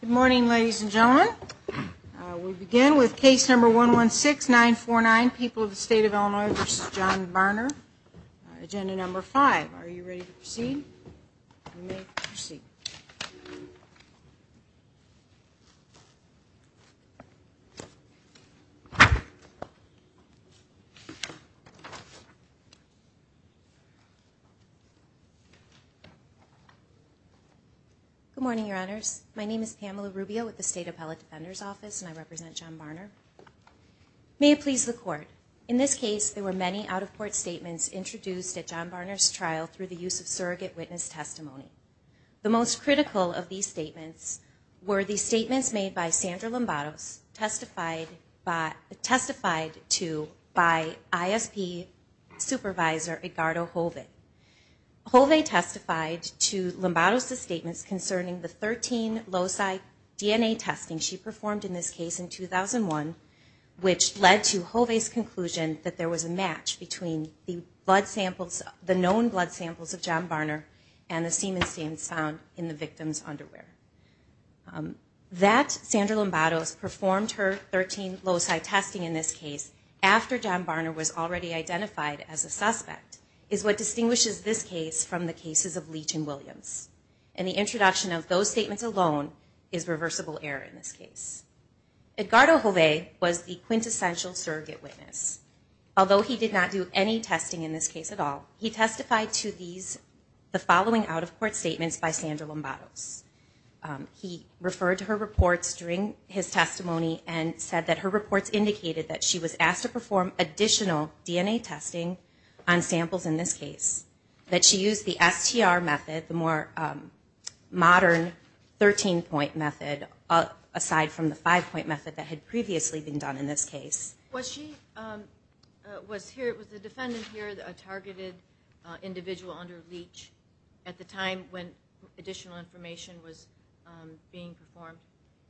Good morning, ladies and gentlemen. We begin with case number 116949, People of the State of Illinois v. John Barner, agenda number 5. Are you ready to proceed? You may proceed. Good morning, Your Honors. My name is Pamela Rubio with the State Appellate Defender's Office, and I represent John Barner. May it please the Court, in this case, there were many out-of-court statements introduced at John Barner's trial through the use of surrogate witness testimony. The most critical of these statements were the statements made by Sandra Lombados, testified to by ISP Supervisor Edgardo Hovey. Hovey testified to Lombados' statements concerning the 13 loci DNA testing she performed in this case in 2001, which led to Hovey's conclusion that there was a match between the known blood samples of John Barner and the semen stains found in the victim's underwear. That Sandra Lombados performed her 13 loci testing in this case after John Barner was already identified as a suspect is what distinguishes this case from the cases of Leach and Williams. And the introduction of those statements alone is reversible error in this case. Edgardo Hovey was the quintessential surrogate witness. Although he did not do any testing in this case at all, he testified to the following out-of-court statements by Sandra Lombados. He referred to her reports during his testimony and said that her reports indicated that she was asked to perform additional DNA testing on samples in this case, that she used the STR method, the more modern 13-point method, aside from the 5-point method that had previously been done in this case. Was she, was the defendant here a targeted individual under Leach at the time when additional information was being performed?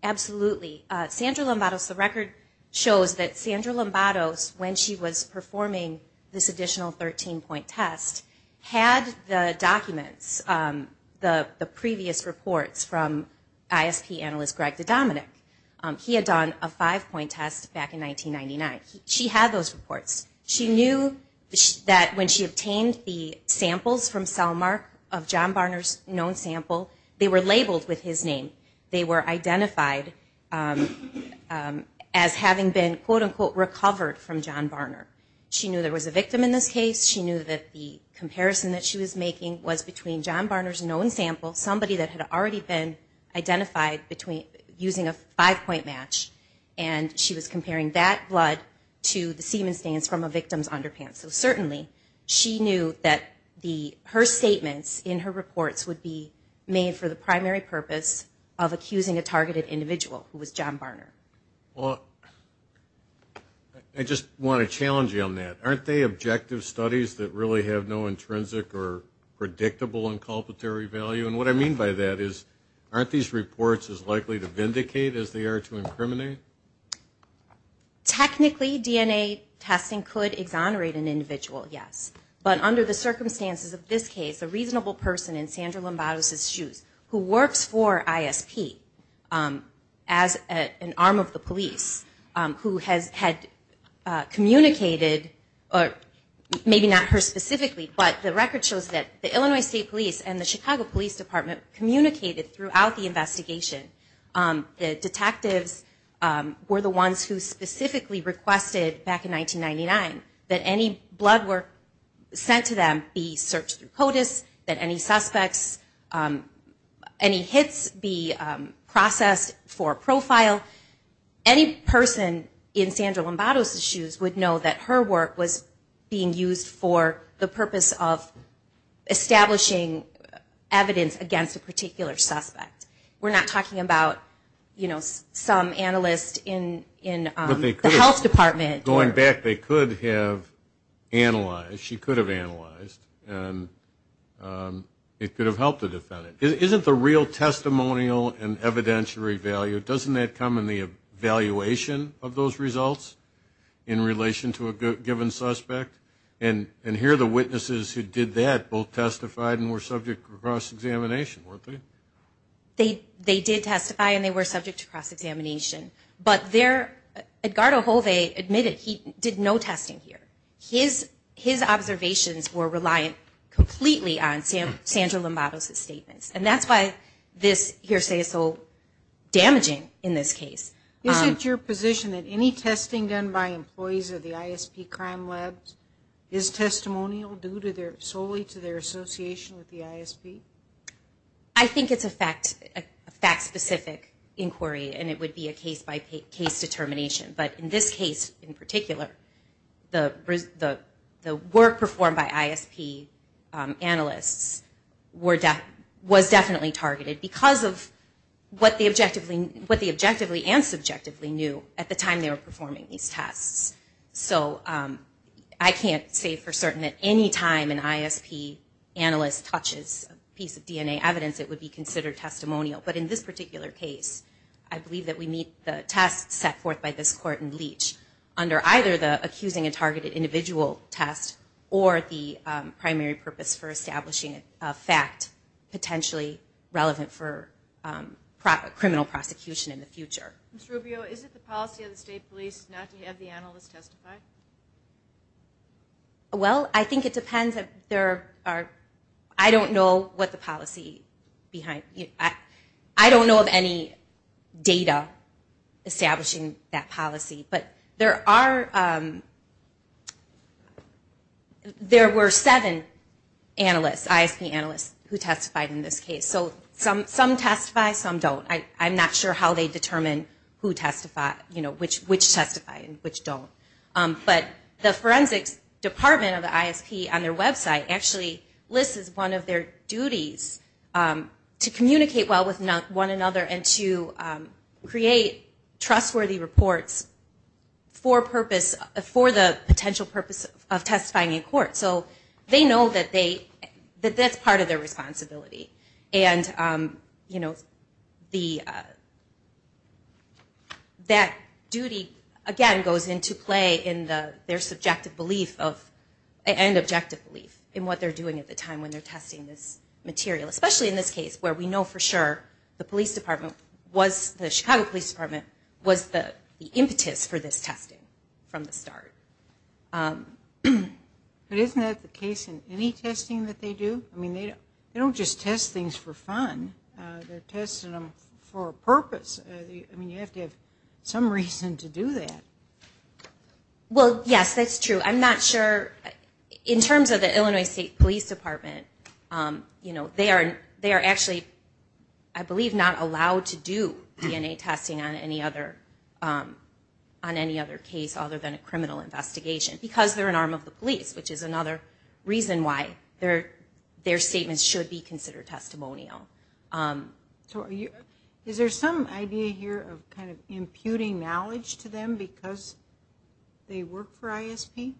Absolutely. Sandra Lombados, the record shows that Sandra Lombados, when she was performing this additional 13-point test, had the documents, the previous reports from ISP analyst Greg DeDominick. He had done a 5-point test back in 1999. She had those reports. She knew that when she obtained the samples from cell mark of John Barner's known sample, they were labeled with his name. They were identified as having been, quote-unquote, recovered from John Barner. She knew there was a victim in this case. She knew that the comparison that she was making was between John Barner's known sample, somebody that had already been identified using a 5-point match, and she was comparing that blood to the semen stains from a victim's underpants. So certainly, she knew that her statements in her reports would be made for the primary purpose of accusing a targeted individual, who was John Barner. Well, I just want to challenge you on that. Aren't they objective studies that really have no intrinsic or predictable inculpatory value? And what I mean by that is, aren't these reports as likely to vindicate as they are to incriminate? Technically, DNA testing could exonerate an individual, yes. But under the circumstances of this case, a reasonable person in Sandra Lombardo's shoes, who works for ISP as an arm of the police, who had communicated, maybe not her specifically, but the record shows that the Illinois State Police and the Chicago Police Department communicated throughout the investigation. The detectives were the ones who specifically requested back in 1999 that any blood work sent to them be searched through CODIS, that any suspects, any hits be processed for profile. Any person in Sandra Lombardo's shoes would know that her work was being used for the purpose of establishing evidence against a particular suspect. We're not talking about, you know, some analyst in the health department. Going back, they could have analyzed, she could have analyzed, and it could have helped the defendant. Isn't the real testimonial and evidentiary value, doesn't that come in the evaluation of those results in relation to a given suspect? And here are the witnesses who did that, both testified and were subject to cross-examination, weren't they? They did testify and they were subject to cross-examination. But there, Edgardo Hove admitted he did no testing here. His observations were reliant completely on Sandra Lombardo's statements. And that's why this hearsay is so damaging in this case. Is it your position that any testing done by employees of the ISP crime labs is testimonial solely to their association with the ISP? I think it's a fact-specific inquiry and it would be a case-by-case determination. But in this case, in particular, the work performed by ISP analysts was definitely targeted because of what they objectively and subjectively knew at the time they were performing these tests. So I can't say for certain that any time an ISP analyst touches a piece of DNA evidence, it would be considered testimonial. But in this particular case, I believe that we meet the test set forth by this court in Leach under either the accusing a targeted individual test or the primary purpose for establishing a fact potentially relevant for criminal prosecution in the future. Ms. Rubio, is it the policy of the state police not to have the analyst testify? Well, I think it depends. I don't know of any data establishing that policy. But there were seven ISP analysts who testified in this case. So some testify, some don't. I'm not sure how they determine which testify and which don't. But the forensics department of the ISP on their website actually lists as one of their duties to communicate well with one another and to create trustworthy reports for the potential purpose of testifying in court. So they know that that's part of their responsibility. And that duty, again, goes into play in their subjective belief and objective belief in what they're doing at the time when they're testing this material. Especially in this case where we know for sure the Chicago Police Department was the impetus for this testing from the start. But isn't that the case in any testing that they do? I mean, they don't just test things for fun. They're testing them for a purpose. I mean, you have to have some reason to do that. Well, yes, that's true. I'm not sure. In terms of the Illinois State Police Department, they are actually, I believe, not allowed to do DNA testing on any other case other than a criminal investigation because they're an arm of the police, which is another reason why their statements should be considered testimonial. So is there some idea here of kind of imputing knowledge to them because they work for ISP?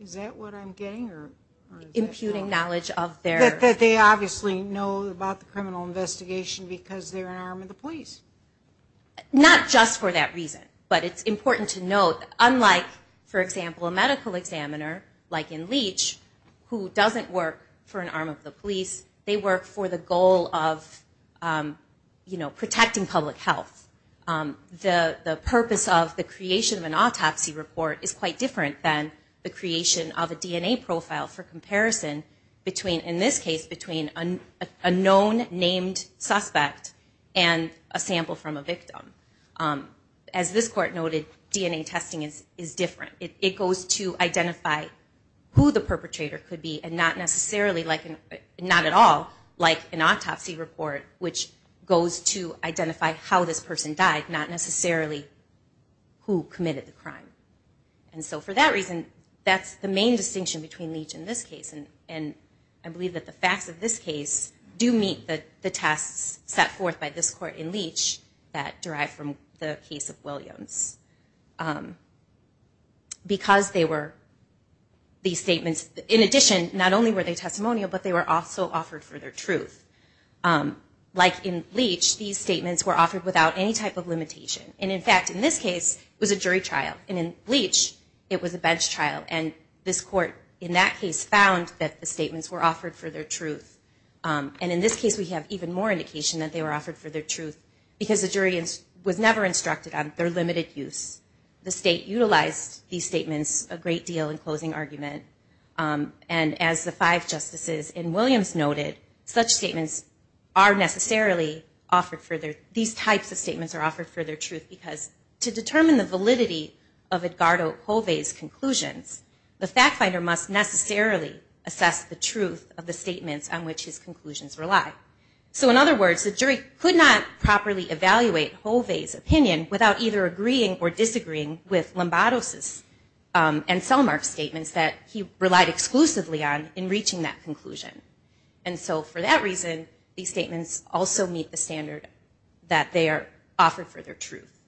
Is that what I'm getting? Imputing knowledge of their... That they obviously know about the criminal investigation because they're an arm of the police. Not just for that reason. But it's important to note, unlike, for example, a medical examiner like in Leach who doesn't work for an arm of the police, they work for the goal of protecting public health. The purpose of the creation of an autopsy report is quite different than the creation of a DNA profile for comparison in this case between a known named suspect and a sample from a victim. As this court noted, DNA testing is different. It goes to identify who the perpetrator could be and not at all like an autopsy report, which goes to identify how this person died, not necessarily who committed the crime. And so for that reason, that's the main distinction between Leach and this case. And I believe that the facts of this case do meet the tests set forth by this court in Leach that derive from the case of Williams. Because they were... These statements, in addition, not only were they testimonial, but they were also offered for their truth. Like in Leach, these statements were offered without any type of limitation. And in fact, in this case, it was a jury trial. And in Leach, it was a bench trial. And this court in that case found that the statements were offered for their truth. And in this case, we have even more indication that they were offered for their truth because the jury was never instructed on their limited use. The state utilized these statements a great deal in closing argument. And as the five justices in Williams noted, such statements are necessarily offered for their... The fact finder must necessarily assess the truth of the statements on which his conclusions rely. So in other words, the jury could not properly evaluate Hove's opinion without either agreeing or disagreeing with Lombados' and Selmark's statements that he relied exclusively on in reaching that conclusion. And so for that reason, these statements also meet the standard that they are offered for their truth.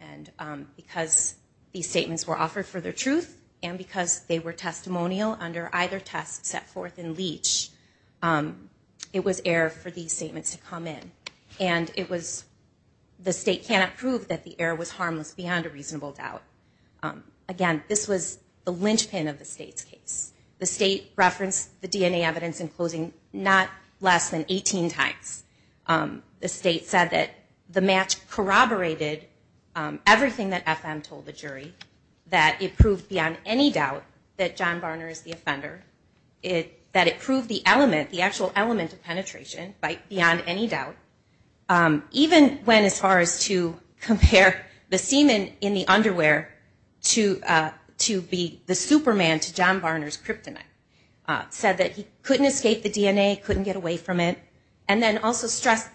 And because these statements were offered for their truth, and because they were testimonial under either test set forth in Leach, it was error for these statements to come in. And it was... The state cannot prove that the error was harmless beyond a reasonable doubt. Again, this was the linchpin of the state's case. The state referenced the DNA evidence in closing not less than 18 times. The state said that the match corroborated everything that FM told the jury, that it proved beyond any doubt that John Barner is the offender, that it proved the element, the actual element of penetration beyond any doubt, even when as far as to compare the semen in the underwear to be the Superman to John Barner's kryptonite. Said that he couldn't escape the DNA, couldn't get away from it, and then also stressed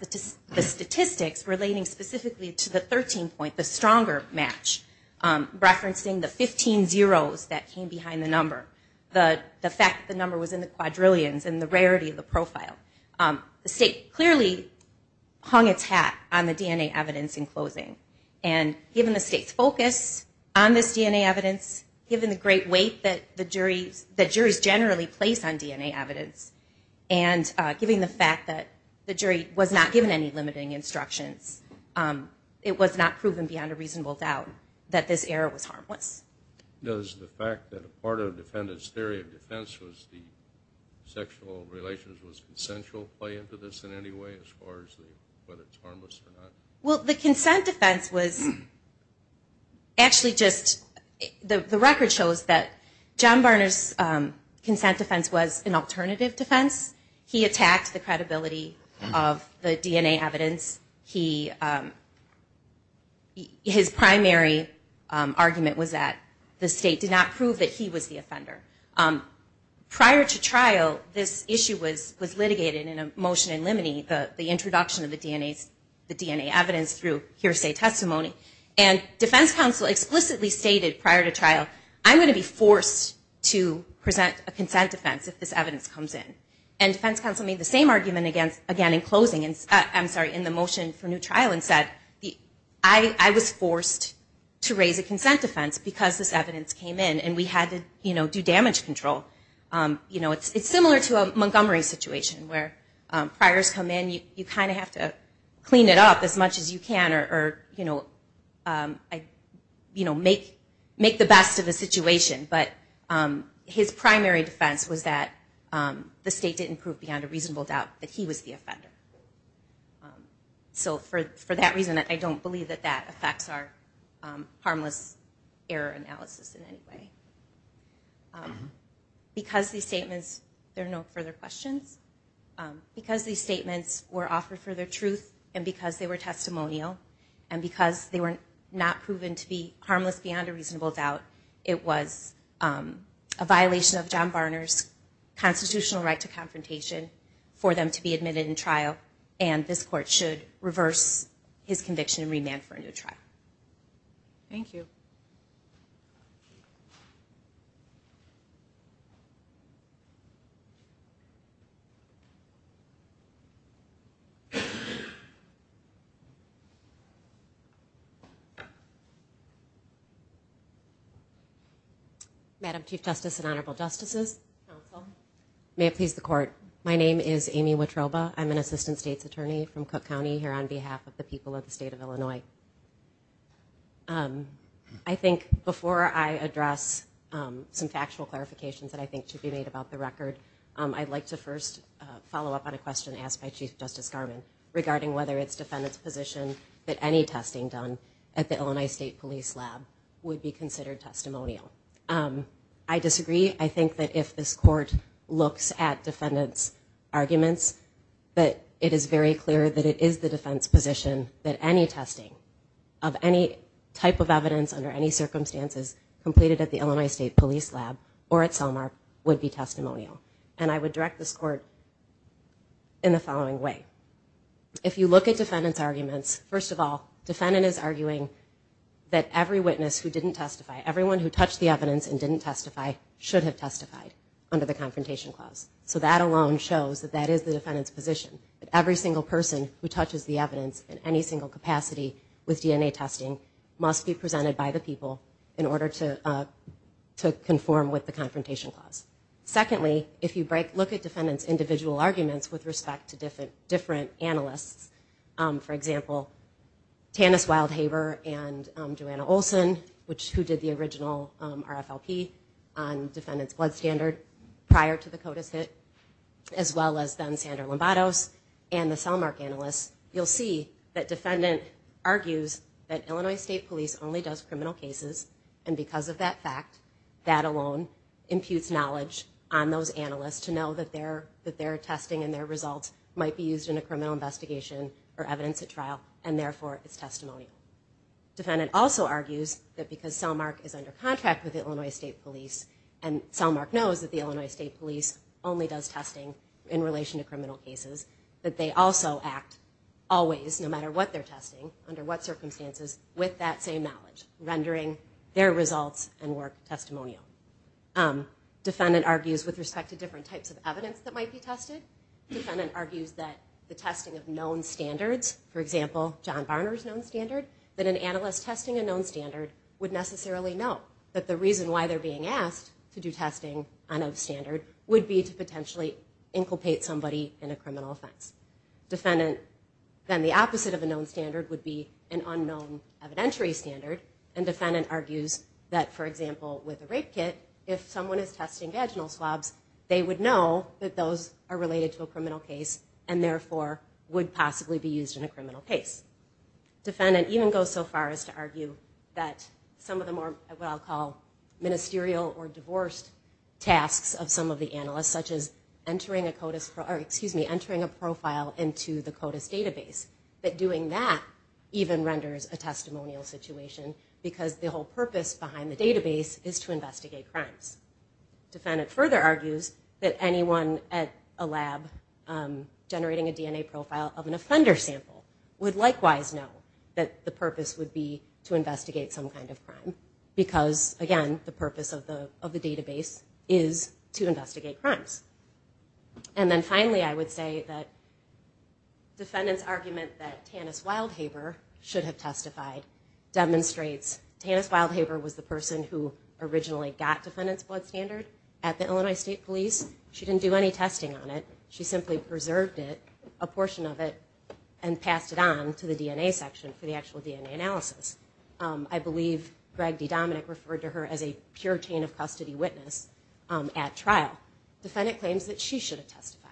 the statistics relating specifically to the 13 point, the stronger match, referencing the 15 zeros that came behind the number. The fact that the number was in the quadrillions and the rarity of the profile. The state clearly hung its hat on the DNA evidence in closing. And given the state's focus on this DNA evidence, given the great weight that the juries generally place on DNA evidence, and given the fact that the jury was not given any limiting instructions, it was not proven beyond a reasonable doubt that this error was harmless. Does the fact that a part of the defendant's theory of defense was the sexual relations was consensual play into this in any way as far as whether it's harmless or not? Well, the consent defense was actually just, the record shows that John Barner's consent defense was an alternative defense. He attacked the credibility of the DNA evidence. His primary argument was that the state did not prove that he was the offender. Prior to trial, this issue was litigated in a motion in limine, the introduction of the DNA evidence through hearsay testimony. And defense counsel explicitly stated prior to trial, I'm going to be forced to present a consent defense if this evidence comes in. And defense counsel made the same argument again in closing, I'm sorry, in the motion for new trial and said, I was forced to raise a consent defense because this evidence came in and we had to do damage control. It's similar to a Montgomery situation where priors come in, you kind of have to clean it up as much as you can or make the best of the situation. But his primary defense was that the state didn't prove beyond a reasonable doubt that he was the offender. So for that reason, I don't believe that that affects our harmless error analysis in any way. Because these statements, there are no further questions. Because these statements were offered for their truth and because they were testimonial and because they were not proven to be harmless beyond a reasonable doubt, it was a violation of John Barner's constitutional right to confrontation for them to be admitted in trial and this court should reverse his conviction and remand for a new trial. Thank you. Madam Chief Justice and Honorable Justices, may it please the court. My name is Amy Wotroba. I'm an Assistant State's Attorney from Cook County here on behalf of the people of the state of Illinois. I think before I address some factual clarifications that I think should be made about the record, I'd like to first follow up on a question asked by Chief Justice Garmon regarding whether it's defendant's position that any testing done at the Illinois State Police Lab would be considered testimonial. I think that if this court looks at defendant's arguments, that it is very clear that it is the defense position that any testing of any type of evidence under any circumstances completed at the Illinois State Police Lab or at Selmar would be testimonial. And I would direct this court in the following way. If you look at defendant's arguments, first of all, defendant is arguing that every witness who didn't testify, everyone who touched the evidence and didn't testify should have testified under the Confrontation Clause. So that alone shows that that is the defendant's position. Every single person who touches the evidence in any single capacity with DNA testing must be presented by the people in order to conform with the Confrontation Clause. Secondly, if you look at defendant's individual arguments with respect to different analysts, for example, Tannis Wildhaber and Joanna Olson, who did the original RFLP on defendant's blood standard prior to the CODIS hit, as well as then Sandra Lombados and the Selmar analysts, you'll see that defendant argues that Illinois State Police only does criminal cases, and because of that fact, that alone imputes knowledge on those analysts to know that their testing and their results might be used in a criminal investigation or evidence at trial, and therefore it's testimonial. Defendant also argues that because Selmar is under contract with Illinois State Police, and Selmar knows that the Illinois State Police only does testing in relation to criminal cases, that they also act always, no matter what they're testing, under what circumstances, with that same knowledge, rendering their results and work testimonial. Defendant argues with respect to different types of evidence that might be tested. Defendant argues that the testing of known standards, for example, John Barner's known standard, that an analyst testing a known standard would necessarily know that the reason why they're being asked to do testing on a standard would be to potentially inculpate somebody in a criminal offense. Defendant, then the opposite of a known standard would be an unknown evidentiary standard, and defendant argues that, for example, with a rape kit, if someone is testing vaginal swabs, they would know that those are related to a criminal case and therefore would possibly be used in a criminal case. Defendant even goes so far as to argue that some of the more, what I'll call, ministerial or divorced tasks of some of the analysts, such as entering a CODIS, or excuse me, entering a profile into the CODIS database, that doing that even renders a testimonial situation because the whole purpose behind the database is to investigate crimes. Defendant further argues that anyone at a lab generating a DNA profile of an offender sample would likewise know that the purpose would be to investigate some kind of crime because, again, the purpose of the database is to investigate crimes. And then finally, I would say that defendant's argument that Tannis Wildhaber should have testified demonstrates Tannis Wildhaber was the person who originally got defendant's blood standard at the Illinois State Police. She didn't do any testing on it. She simply preserved it, a portion of it, and passed it on to the DNA section for the actual DNA analysis. I believe Greg D. Dominick referred to her as a pure chain of custody witness at trial. Defendant claims that she should have testified.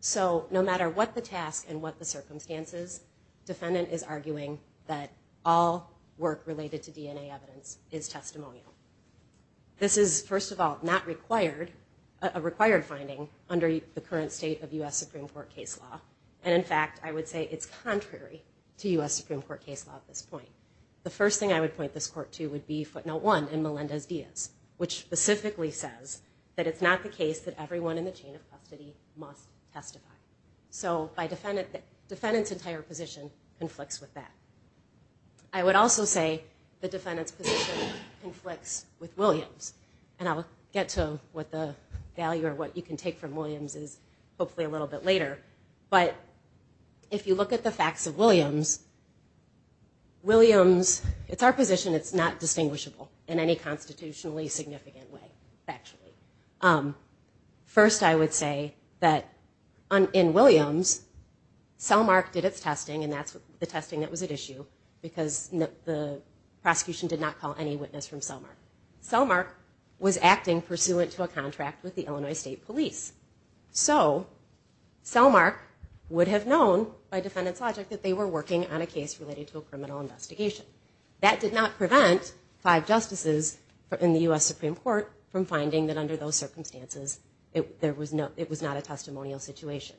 So no matter what the task and what the circumstances, defendant is arguing that all work related to DNA evidence is testimonial. This is, first of all, not required, a required finding under the current state of U.S. Supreme Court case law. And, in fact, I would say it's contrary to U.S. Supreme Court case law at this point. The first thing I would point this court to would be footnote one in Melendez-Diaz, which specifically says that it's not the case that everyone in the chain of custody must testify. So defendant's entire position conflicts with that. I would also say the defendant's position conflicts with Williams. And I'll get to what the value or what you can take from Williams is hopefully a little bit later. But if you look at the facts of Williams, Williams, it's our position, it's not distinguishable in any constitutionally significant way, factually. First, I would say that in Williams, Selmark did its testing, and that's the testing that was at issue because the prosecution did not call any witness from Selmark. Selmark was acting pursuant to a contract with the Illinois State Police. So Selmark would have known by defendant's logic that they were working on a case related to a criminal investigation. That did not prevent five justices in the U.S. Supreme Court from finding that under those circumstances, it was not a testimonial situation.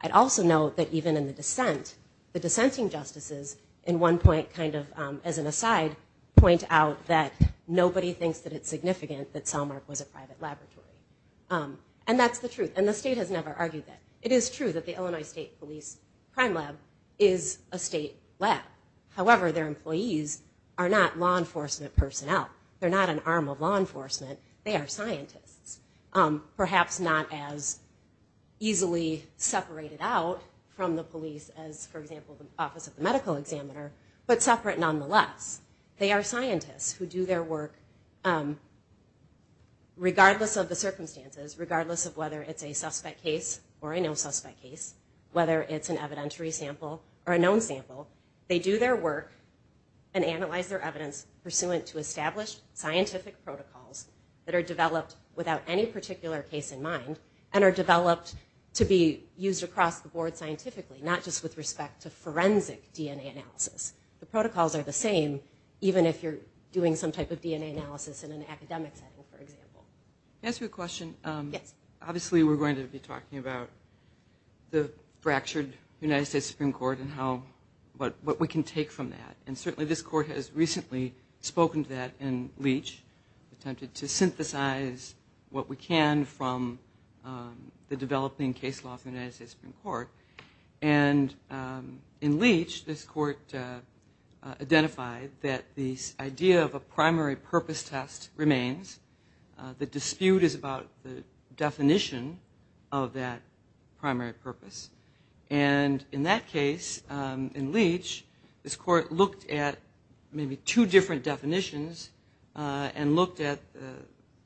I'd also note that even in the dissent, the dissenting justices in one point kind of as an aside, point out that nobody thinks that it's significant that Selmark was a private laboratory. And that's the truth. And the state has never argued that. It is true that the Illinois State Police Crime Lab is a state lab. However, their employees are not law enforcement personnel. They're not an arm of law enforcement. They are scientists, perhaps not as easily separated out from the police as, for example, the Office of the Medical Examiner, but separate nonetheless. They are scientists who do their work regardless of the circumstances, regardless of whether it's a suspect case or a no-suspect case, whether it's an evidentiary sample or a known sample. They do their work and analyze their evidence pursuant to established scientific protocols that are developed without any particular case in mind and are developed to be used across the board scientifically, not just with respect to forensic DNA analysis. The protocols are the same even if you're doing some type of DNA analysis in an academic setting, for example. Can I ask you a question? Yes. Obviously, we're going to be talking about the fractured United States Supreme Court and what we can take from that. And certainly this court has recently spoken to that in Leach, attempted to synthesize what we can from the developing case law of the United States Supreme Court. And in Leach, this court identified that the idea of a primary purpose test remains. The dispute is about the definition of that primary purpose. And in that case, in Leach, this court looked at maybe two different definitions and looked at,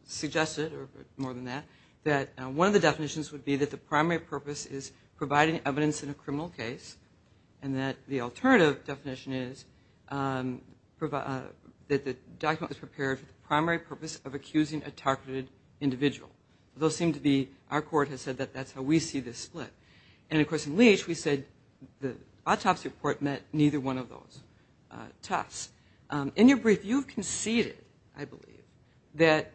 suggested, or more than that, that one of the definitions would be that the primary purpose is providing evidence in a criminal case and that the alternative definition is that the document was prepared for the primary purpose of accusing a targeted individual. Those seem to be, our court has said that that's how we see this split. And, of course, in Leach, we said the autopsy report met neither one of those tests. In your brief, you conceded, I believe, that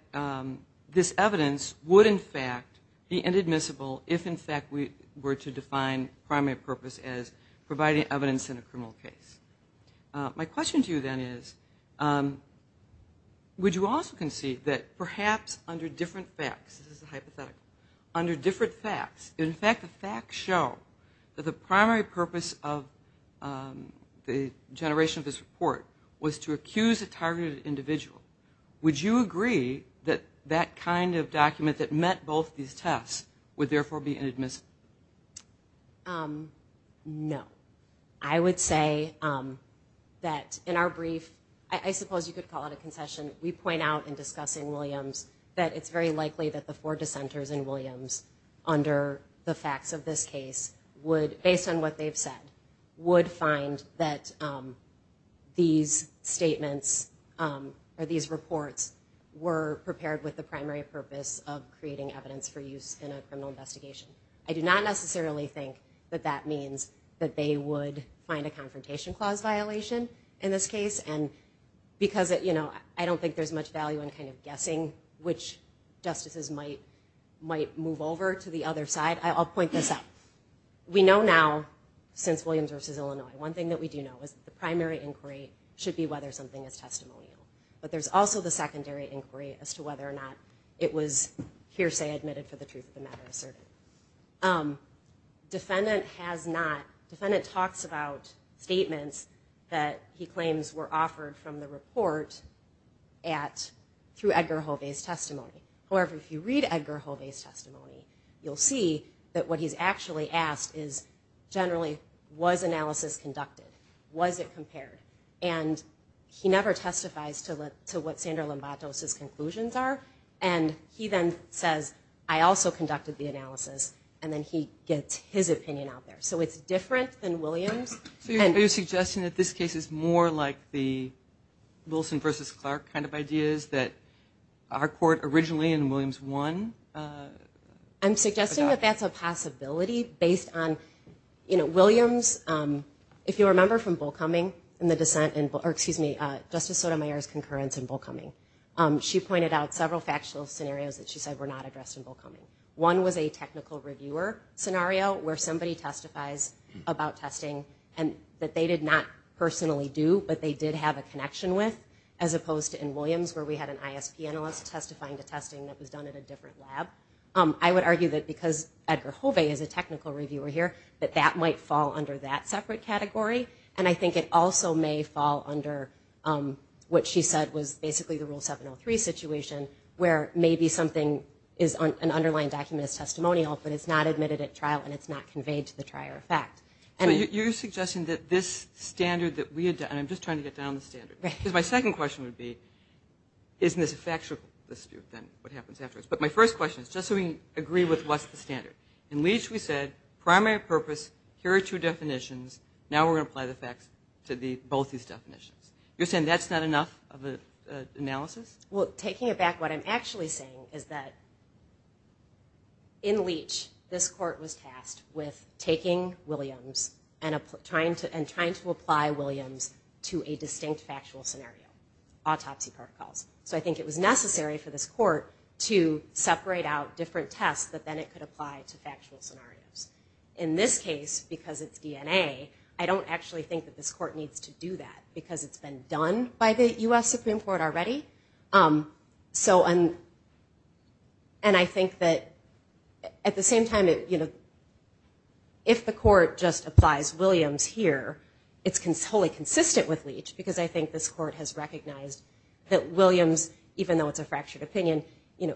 this evidence would, in fact, be inadmissible if, in fact, we were to define primary purpose as providing evidence in a criminal case. My question to you then is, would you also concede that perhaps under different facts, this is a hypothetical, under different facts, in fact, the facts show that the primary purpose of the generation of this report was to accuse a targeted individual. Would you agree that that kind of document that met both these tests would therefore be inadmissible? No. I would say that in our brief, I suppose you could call it a concession, we point out in discussing Williams that it's very likely that the four dissenters in Williams under the facts of this case would, based on what they've said, would find that these statements or these reports were prepared with the primary purpose of creating evidence for use in a criminal investigation. I do not necessarily think that that means that they would find a confrontation clause violation in this case. I don't think there's much value in guessing which justices might move over to the other side. I'll point this out. We know now, since Williams v. Illinois, one thing that we do know is that the primary inquiry should be whether something is testimonial. But there's also the secondary inquiry as to whether or not it was hearsay admitted for the truth of the matter asserted. Defendant talks about statements that he claims were offered from the report through Edgar Hovey's testimony. However, if you read Edgar Hovey's testimony, you'll see that what he's actually asked is, generally, was analysis conducted? Was it compared? And he never testifies to what Sandra Lombatos' conclusions are. And he then says, I also conducted the analysis. And then he gets his opinion out there. So it's different than Williams. Are you suggesting that this case is more like the Wilson v. Clark kind of ideas that our court originally, in Williams, won? I'm suggesting that that's a possibility based on Williams. If you remember from Bullcoming, Justice Sotomayor's concurrence in Bullcoming, she pointed out several factual scenarios that she said were not addressed in Bullcoming. One was a technical reviewer scenario where somebody testifies about testing that they did not personally do, but they did have a connection with, as opposed to in Williams where we had an ISP analyst testifying to testing that was done at a different lab. I would argue that because Edgar Hovey is a technical reviewer here, that that might fall under that separate category. And I think it also may fall under what she said was basically the Rule 703 situation, where maybe something is an underlying document that's testimonial, but it's not admitted at trial, and it's not conveyed to the trier of fact. So you're suggesting that this standard that we had done, and I'm just trying to get down the standard. Because my second question would be, isn't this a factual dispute, then, what happens afterwards? But my first question is just so we can agree with what's the standard. In Leach, we said primary purpose, here are two definitions. Now we're going to apply the facts to both these definitions. You're saying that's not enough of an analysis? Well, taking it back, what I'm actually saying is that in Leach, this court was tasked with taking Williams and trying to apply Williams to a distinct factual scenario, autopsy protocols. So I think it was necessary for this court to separate out different tests that then it could apply to factual scenarios. In this case, because it's DNA, I don't actually think that this court needs to do that, because it's been done by the U.S. Supreme Court already. And I think that at the same time, if the court just applies Williams here, it's totally consistent with Leach, because I think this court has recognized that Williams, even though it's a fractured opinion,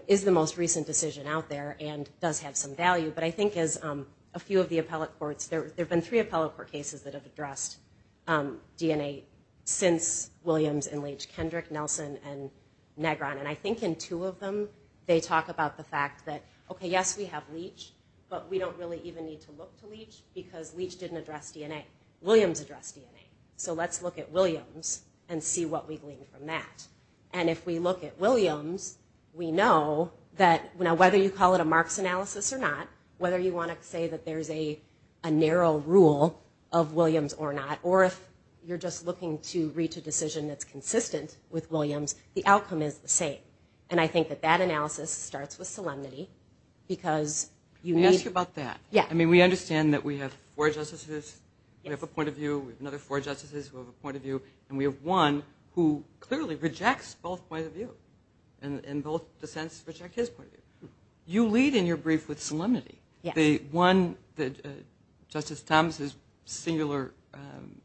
is the most recent decision out there and does have some value. But I think as a few of the appellate courts, there have been three appellate court cases that have addressed DNA since Williams and Leach, Kendrick, Nelson, and Negron. And I think in two of them, they talk about the fact that, okay, yes, we have Leach, but we don't really even need to look to Leach, because Leach didn't address DNA. Williams addressed DNA. So let's look at Williams and see what we glean from that. And if we look at Williams, we know that whether you call it a Marx analysis or not, whether you want to say that there's a narrow rule of Williams or not, or if you're just looking to reach a decision that's consistent with Williams, the outcome is the same. And I think that that analysis starts with solemnity, because you need – Let me ask you about that. Yeah. I mean, we understand that we have four justices. We have a point of view. We have another four justices who have a point of view. And we have one who clearly rejects both points of view and both dissents reject his point of view. You lead in your brief with solemnity, the one that Justice Thomas's singular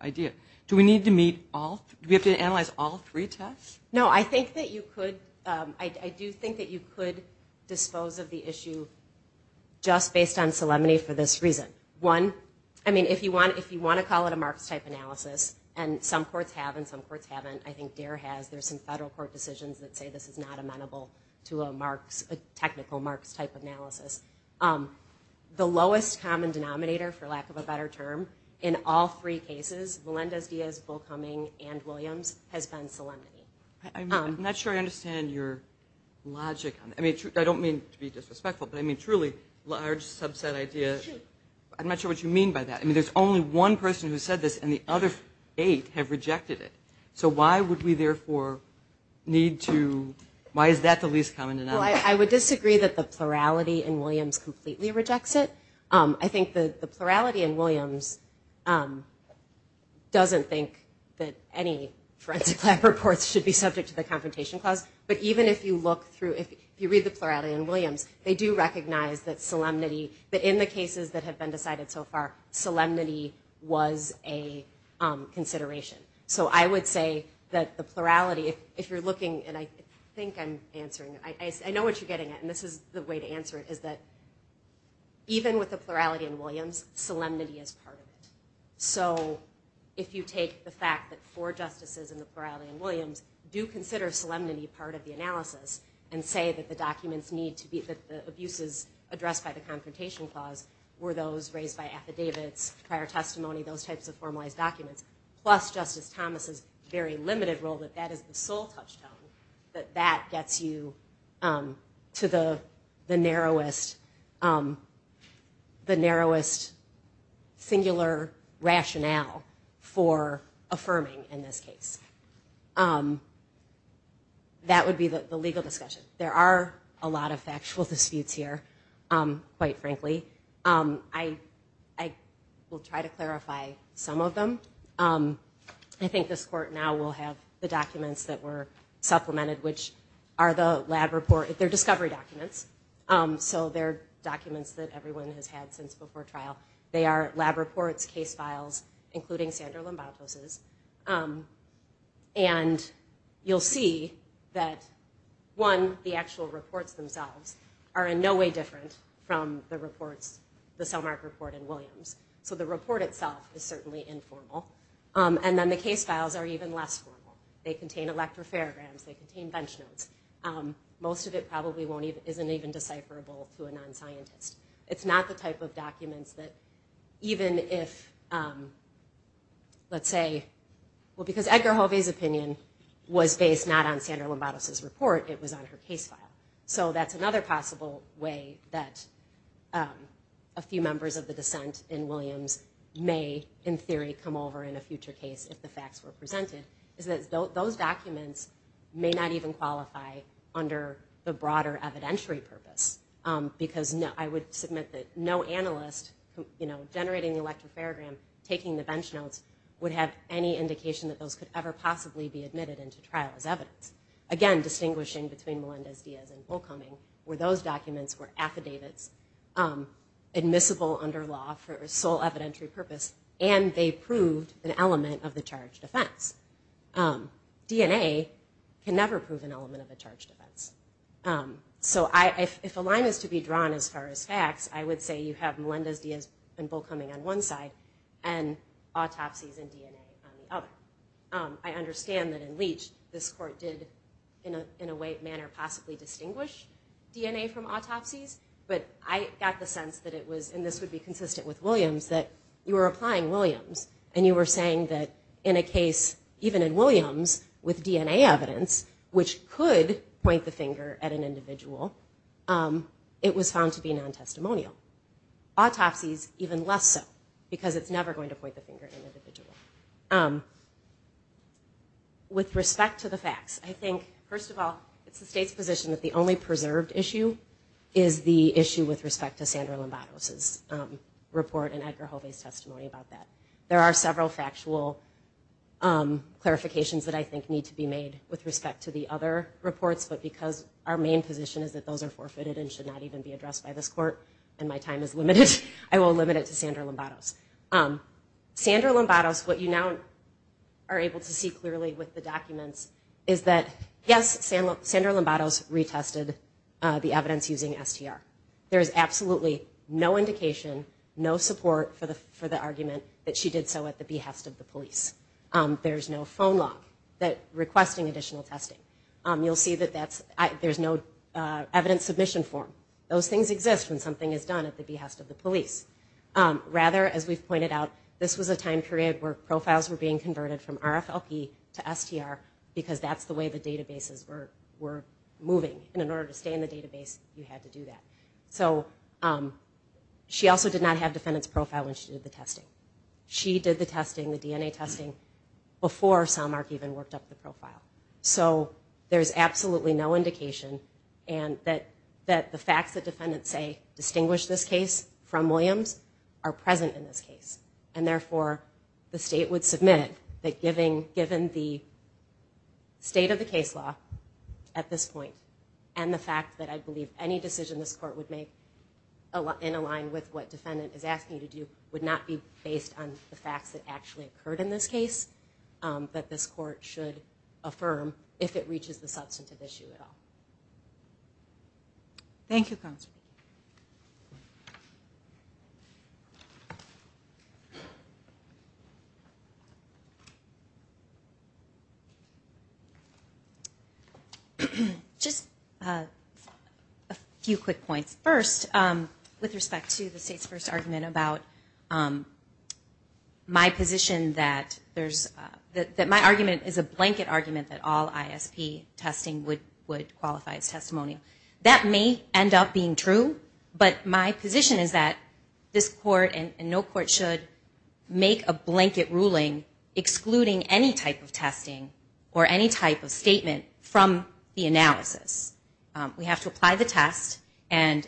idea. Do we need to meet all – do we have to analyze all three tests? No. I think that you could – I do think that you could dispose of the issue just based on solemnity for this reason. One, I mean, if you want to call it a Marx-type analysis, and some courts have and some courts haven't. I think DARE has. There's some federal court decisions that say this is not amenable to a technical Marx-type analysis. The lowest common denominator, for lack of a better term, in all three cases, Melendez-Diaz, Bulkhoming, and Williams, has been solemnity. I'm not sure I understand your logic. I mean, I don't mean to be disrespectful, but, I mean, truly, large subset idea. I'm not sure what you mean by that. I mean, there's only one person who said this, and the other eight have rejected it. So why would we, therefore, need to – why is that the least common denominator? Well, I would disagree that the plurality in Williams completely rejects it. I think the plurality in Williams doesn't think that any forensic lab reports should be subject to the Confrontation Clause. But even if you look through – if you read the plurality in Williams, they do recognize that solemnity – that in the cases that have been decided so far, solemnity was a consideration. So I would say that the plurality, if you're looking – and I think I'm answering it. I know what you're getting at, and this is the way to answer it, is that even with the plurality in Williams, solemnity is part of it. So if you take the fact that four justices in the plurality in Williams do consider solemnity part of the analysis and say that the documents need to be – that the abuses addressed by the Confrontation Clause were those raised by affidavits, prior testimony, those types of formalized documents, plus Justice Thomas's very limited role that that is the sole touchstone, that that gets you to the narrowest singular rationale for affirming in this case. That would be the legal discussion. There are a lot of factual disputes here, quite frankly. I will try to clarify some of them. I think this court now will have the documents that were supplemented, which are the lab report – they're discovery documents, so they're documents that everyone has had since before trial. They are lab reports, case files, including Sandra Lombato's. And you'll see that, one, the actual reports themselves are in no way different from the reports – the Selmark report in Williams. So the report itself is certainly informal. And then the case files are even less formal. They contain electrophorograms. They contain bench notes. Most of it probably isn't even decipherable to a non-scientist. It's not the type of documents that even if, let's say – well, because Edgar Hovey's opinion was based not on Sandra Lombato's report. It was on her case file. So that's another possible way that a few members of the dissent in Williams may, in theory, come over in a future case if the facts were presented, is that those documents may not even qualify under the broader evidentiary purpose because I would submit that no analyst generating the electrophorogram, taking the bench notes, would have any indication that those could ever possibly be admitted into trial as evidence. Again, distinguishing between Melendez-Diaz and Bullcoming were those documents were affidavits, admissible under law for sole evidentiary purpose, and they proved an element of the charge defense. DNA can never prove an element of a charge defense. So if a line is to be drawn as far as facts, I would say you have Melendez-Diaz and Bullcoming on one side and autopsies and DNA on the other. I understand that in Leach this court did, in a way, manner, possibly distinguish DNA from autopsies, but I got the sense that it was, and this would be consistent with Williams, that you were applying Williams, and you were saying that in a case, even in Williams, with DNA evidence, which could point the finger at an individual, it was found to be non-testimonial. Autopsies, even less so, because it's never going to point the finger at an individual. With respect to the facts, I think, first of all, it's the state's position that the only preserved issue is the issue with respect to Sandra Lombardo's report and Edgar Hove's testimony about that. There are several factual clarifications that I think need to be made with respect to the other reports, but because our main position is that those are forfeited and should not even be addressed by this court, and my time is limited, I will limit it to Sandra Lombardo's. Sandra Lombardo's, what you now are able to see clearly with the documents, is that, yes, Sandra Lombardo's retested the evidence using STR. There is absolutely no indication, no support for the argument that she did so at the behest of the police. There is no phone log requesting additional testing. You'll see that there's no evidence submission form. Those things exist when something is done at the behest of the police. Rather, as we've pointed out, this was a time period where profiles were being converted from RFLP to STR because that's the way the databases were moving, and in order to stay in the database, you had to do that. She also did not have defendant's profile when she did the testing. She did the testing, the DNA testing, before Sommark even worked up the profile. So there's absolutely no indication that the facts that defendants say distinguish this case from Williams are present in this case, and therefore the state would submit that given the state of the case law at this point and the fact that I believe any decision this court would make in align with what defendant is asking you to do would not be based on the facts that actually occurred in this case that this court should affirm if it reaches the substantive issue at all. Thank you, Counselor. Just a few quick points. First, with respect to the state's first argument about my position that my argument is a blanket argument that all ISP testing would qualify as testimonial. That may end up being true, but my position is that this court and no court should make a blanket ruling excluding any type of testing or any type of statement from the analysis. We have to apply the test and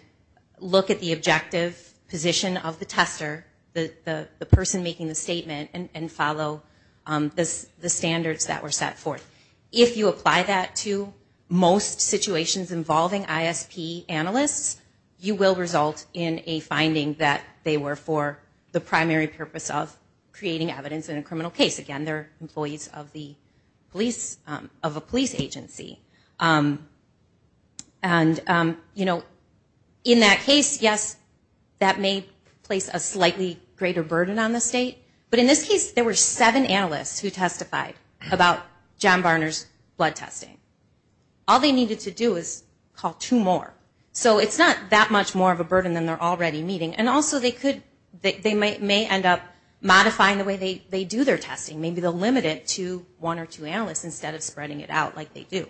look at the objective position of the tester, the person making the statement, and follow the standards that were set forth. If you apply that to most situations involving ISP analysts, you will result in a finding that they were for the primary purpose of creating evidence in a criminal case. Again, they're employees of a police agency. In that case, yes, that may place a slightly greater burden on the state. But in this case, there were seven analysts who testified about John Barner's blood testing. All they needed to do was call two more. So it's not that much more of a burden than they're already meeting. Also, they may end up modifying the way they do their testing. Maybe they'll limit it to one or two analysts instead of spreading it out like they do.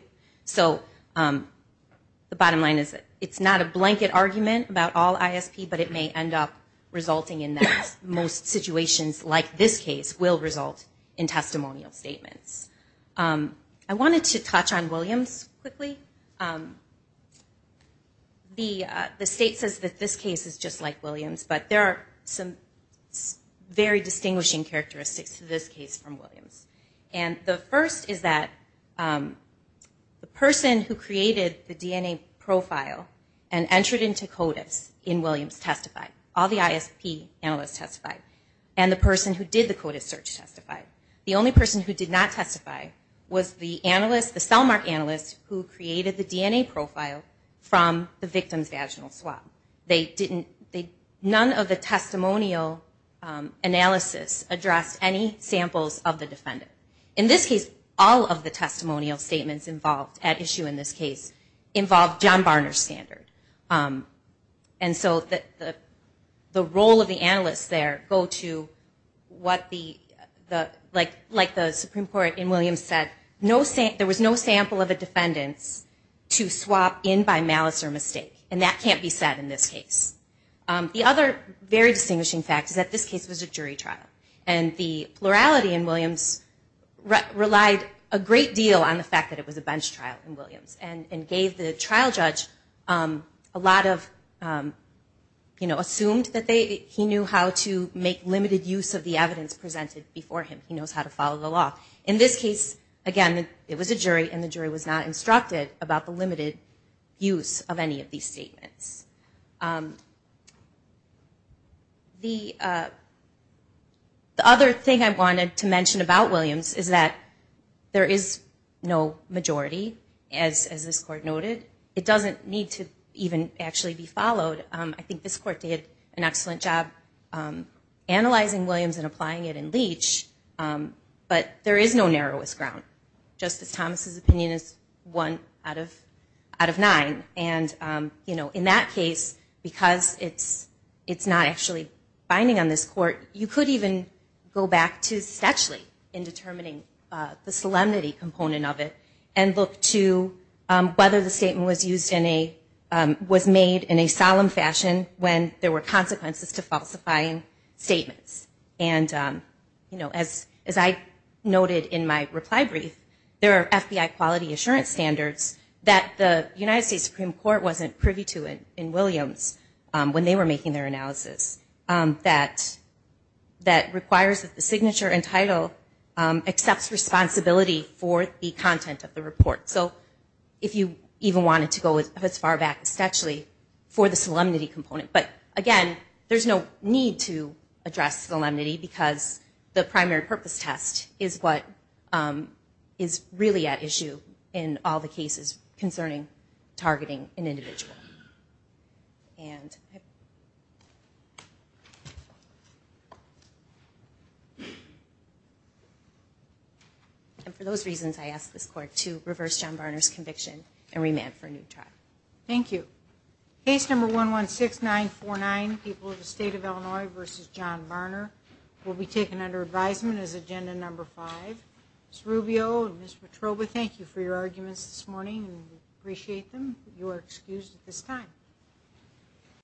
The bottom line is it's not a blanket argument about all ISP, but it may end up resulting in that most situations like this case will result in testimonial statements. I wanted to touch on Williams quickly. The state says that this case is just like Williams, but there are some very distinguishing characteristics to this case from Williams. The first is that the person who created the DNA profile and entered into CODIS in Williams testified. All the ISP analysts testified. And the person who did the CODIS search testified. The only person who did not testify was the cellmark analyst who created the DNA profile from the victim's vaginal swab. None of the testimonial analysis addressed any samples of the defendant. In this case, all of the testimonial statements involved at issue in this case involved John Barner's standard. And so the role of the analysts there go to, like the Supreme Court in Williams said, there was no sample of a defendant to swap in by malice or mistake. And that can't be said in this case. The other very distinguishing fact is that this case was a jury trial. And the plurality in Williams relied a great deal on the fact that it was a bench trial in Williams and gave the trial judge a lot of, you know, assumed that he knew how to make limited use of the evidence presented before him. He knows how to follow the law. In this case, again, it was a jury, and the jury was not instructed about the limited use of any of these statements. The other thing I wanted to mention about Williams is that there is no majority, as this Court noted. It doesn't need to even actually be followed. I think this Court did an excellent job analyzing Williams and applying it in Leach. But there is no narrowest ground. Justice Thomas' opinion is one out of nine. And, you know, in that case, because it's not actually binding on this Court, you could even go back to Stetchley in determining the solemnity component of it and look to whether the statement was made in a solemn fashion when there were consequences to falsifying statements. And, you know, as I noted in my reply brief, there are FBI quality assurance standards that the United States Supreme Court wasn't privy to in Williams when they were making their analysis that requires that the signature and title accepts responsibility for the content of the report. So if you even wanted to go as far back as Stetchley for the solemnity component. But, again, there's no need to address solemnity because the primary purpose test is what is really at issue in all the cases concerning targeting an individual. And for those reasons, I ask this Court to reverse John Barner's conviction and remand for a new trial. Thank you. Case No. 116949, People of the State of Illinois v. John Barner, will be taken under advisement as Agenda No. 5. Ms. Rubio and Ms. Petrova, thank you for your arguments this morning. We appreciate them. You are excused at this time.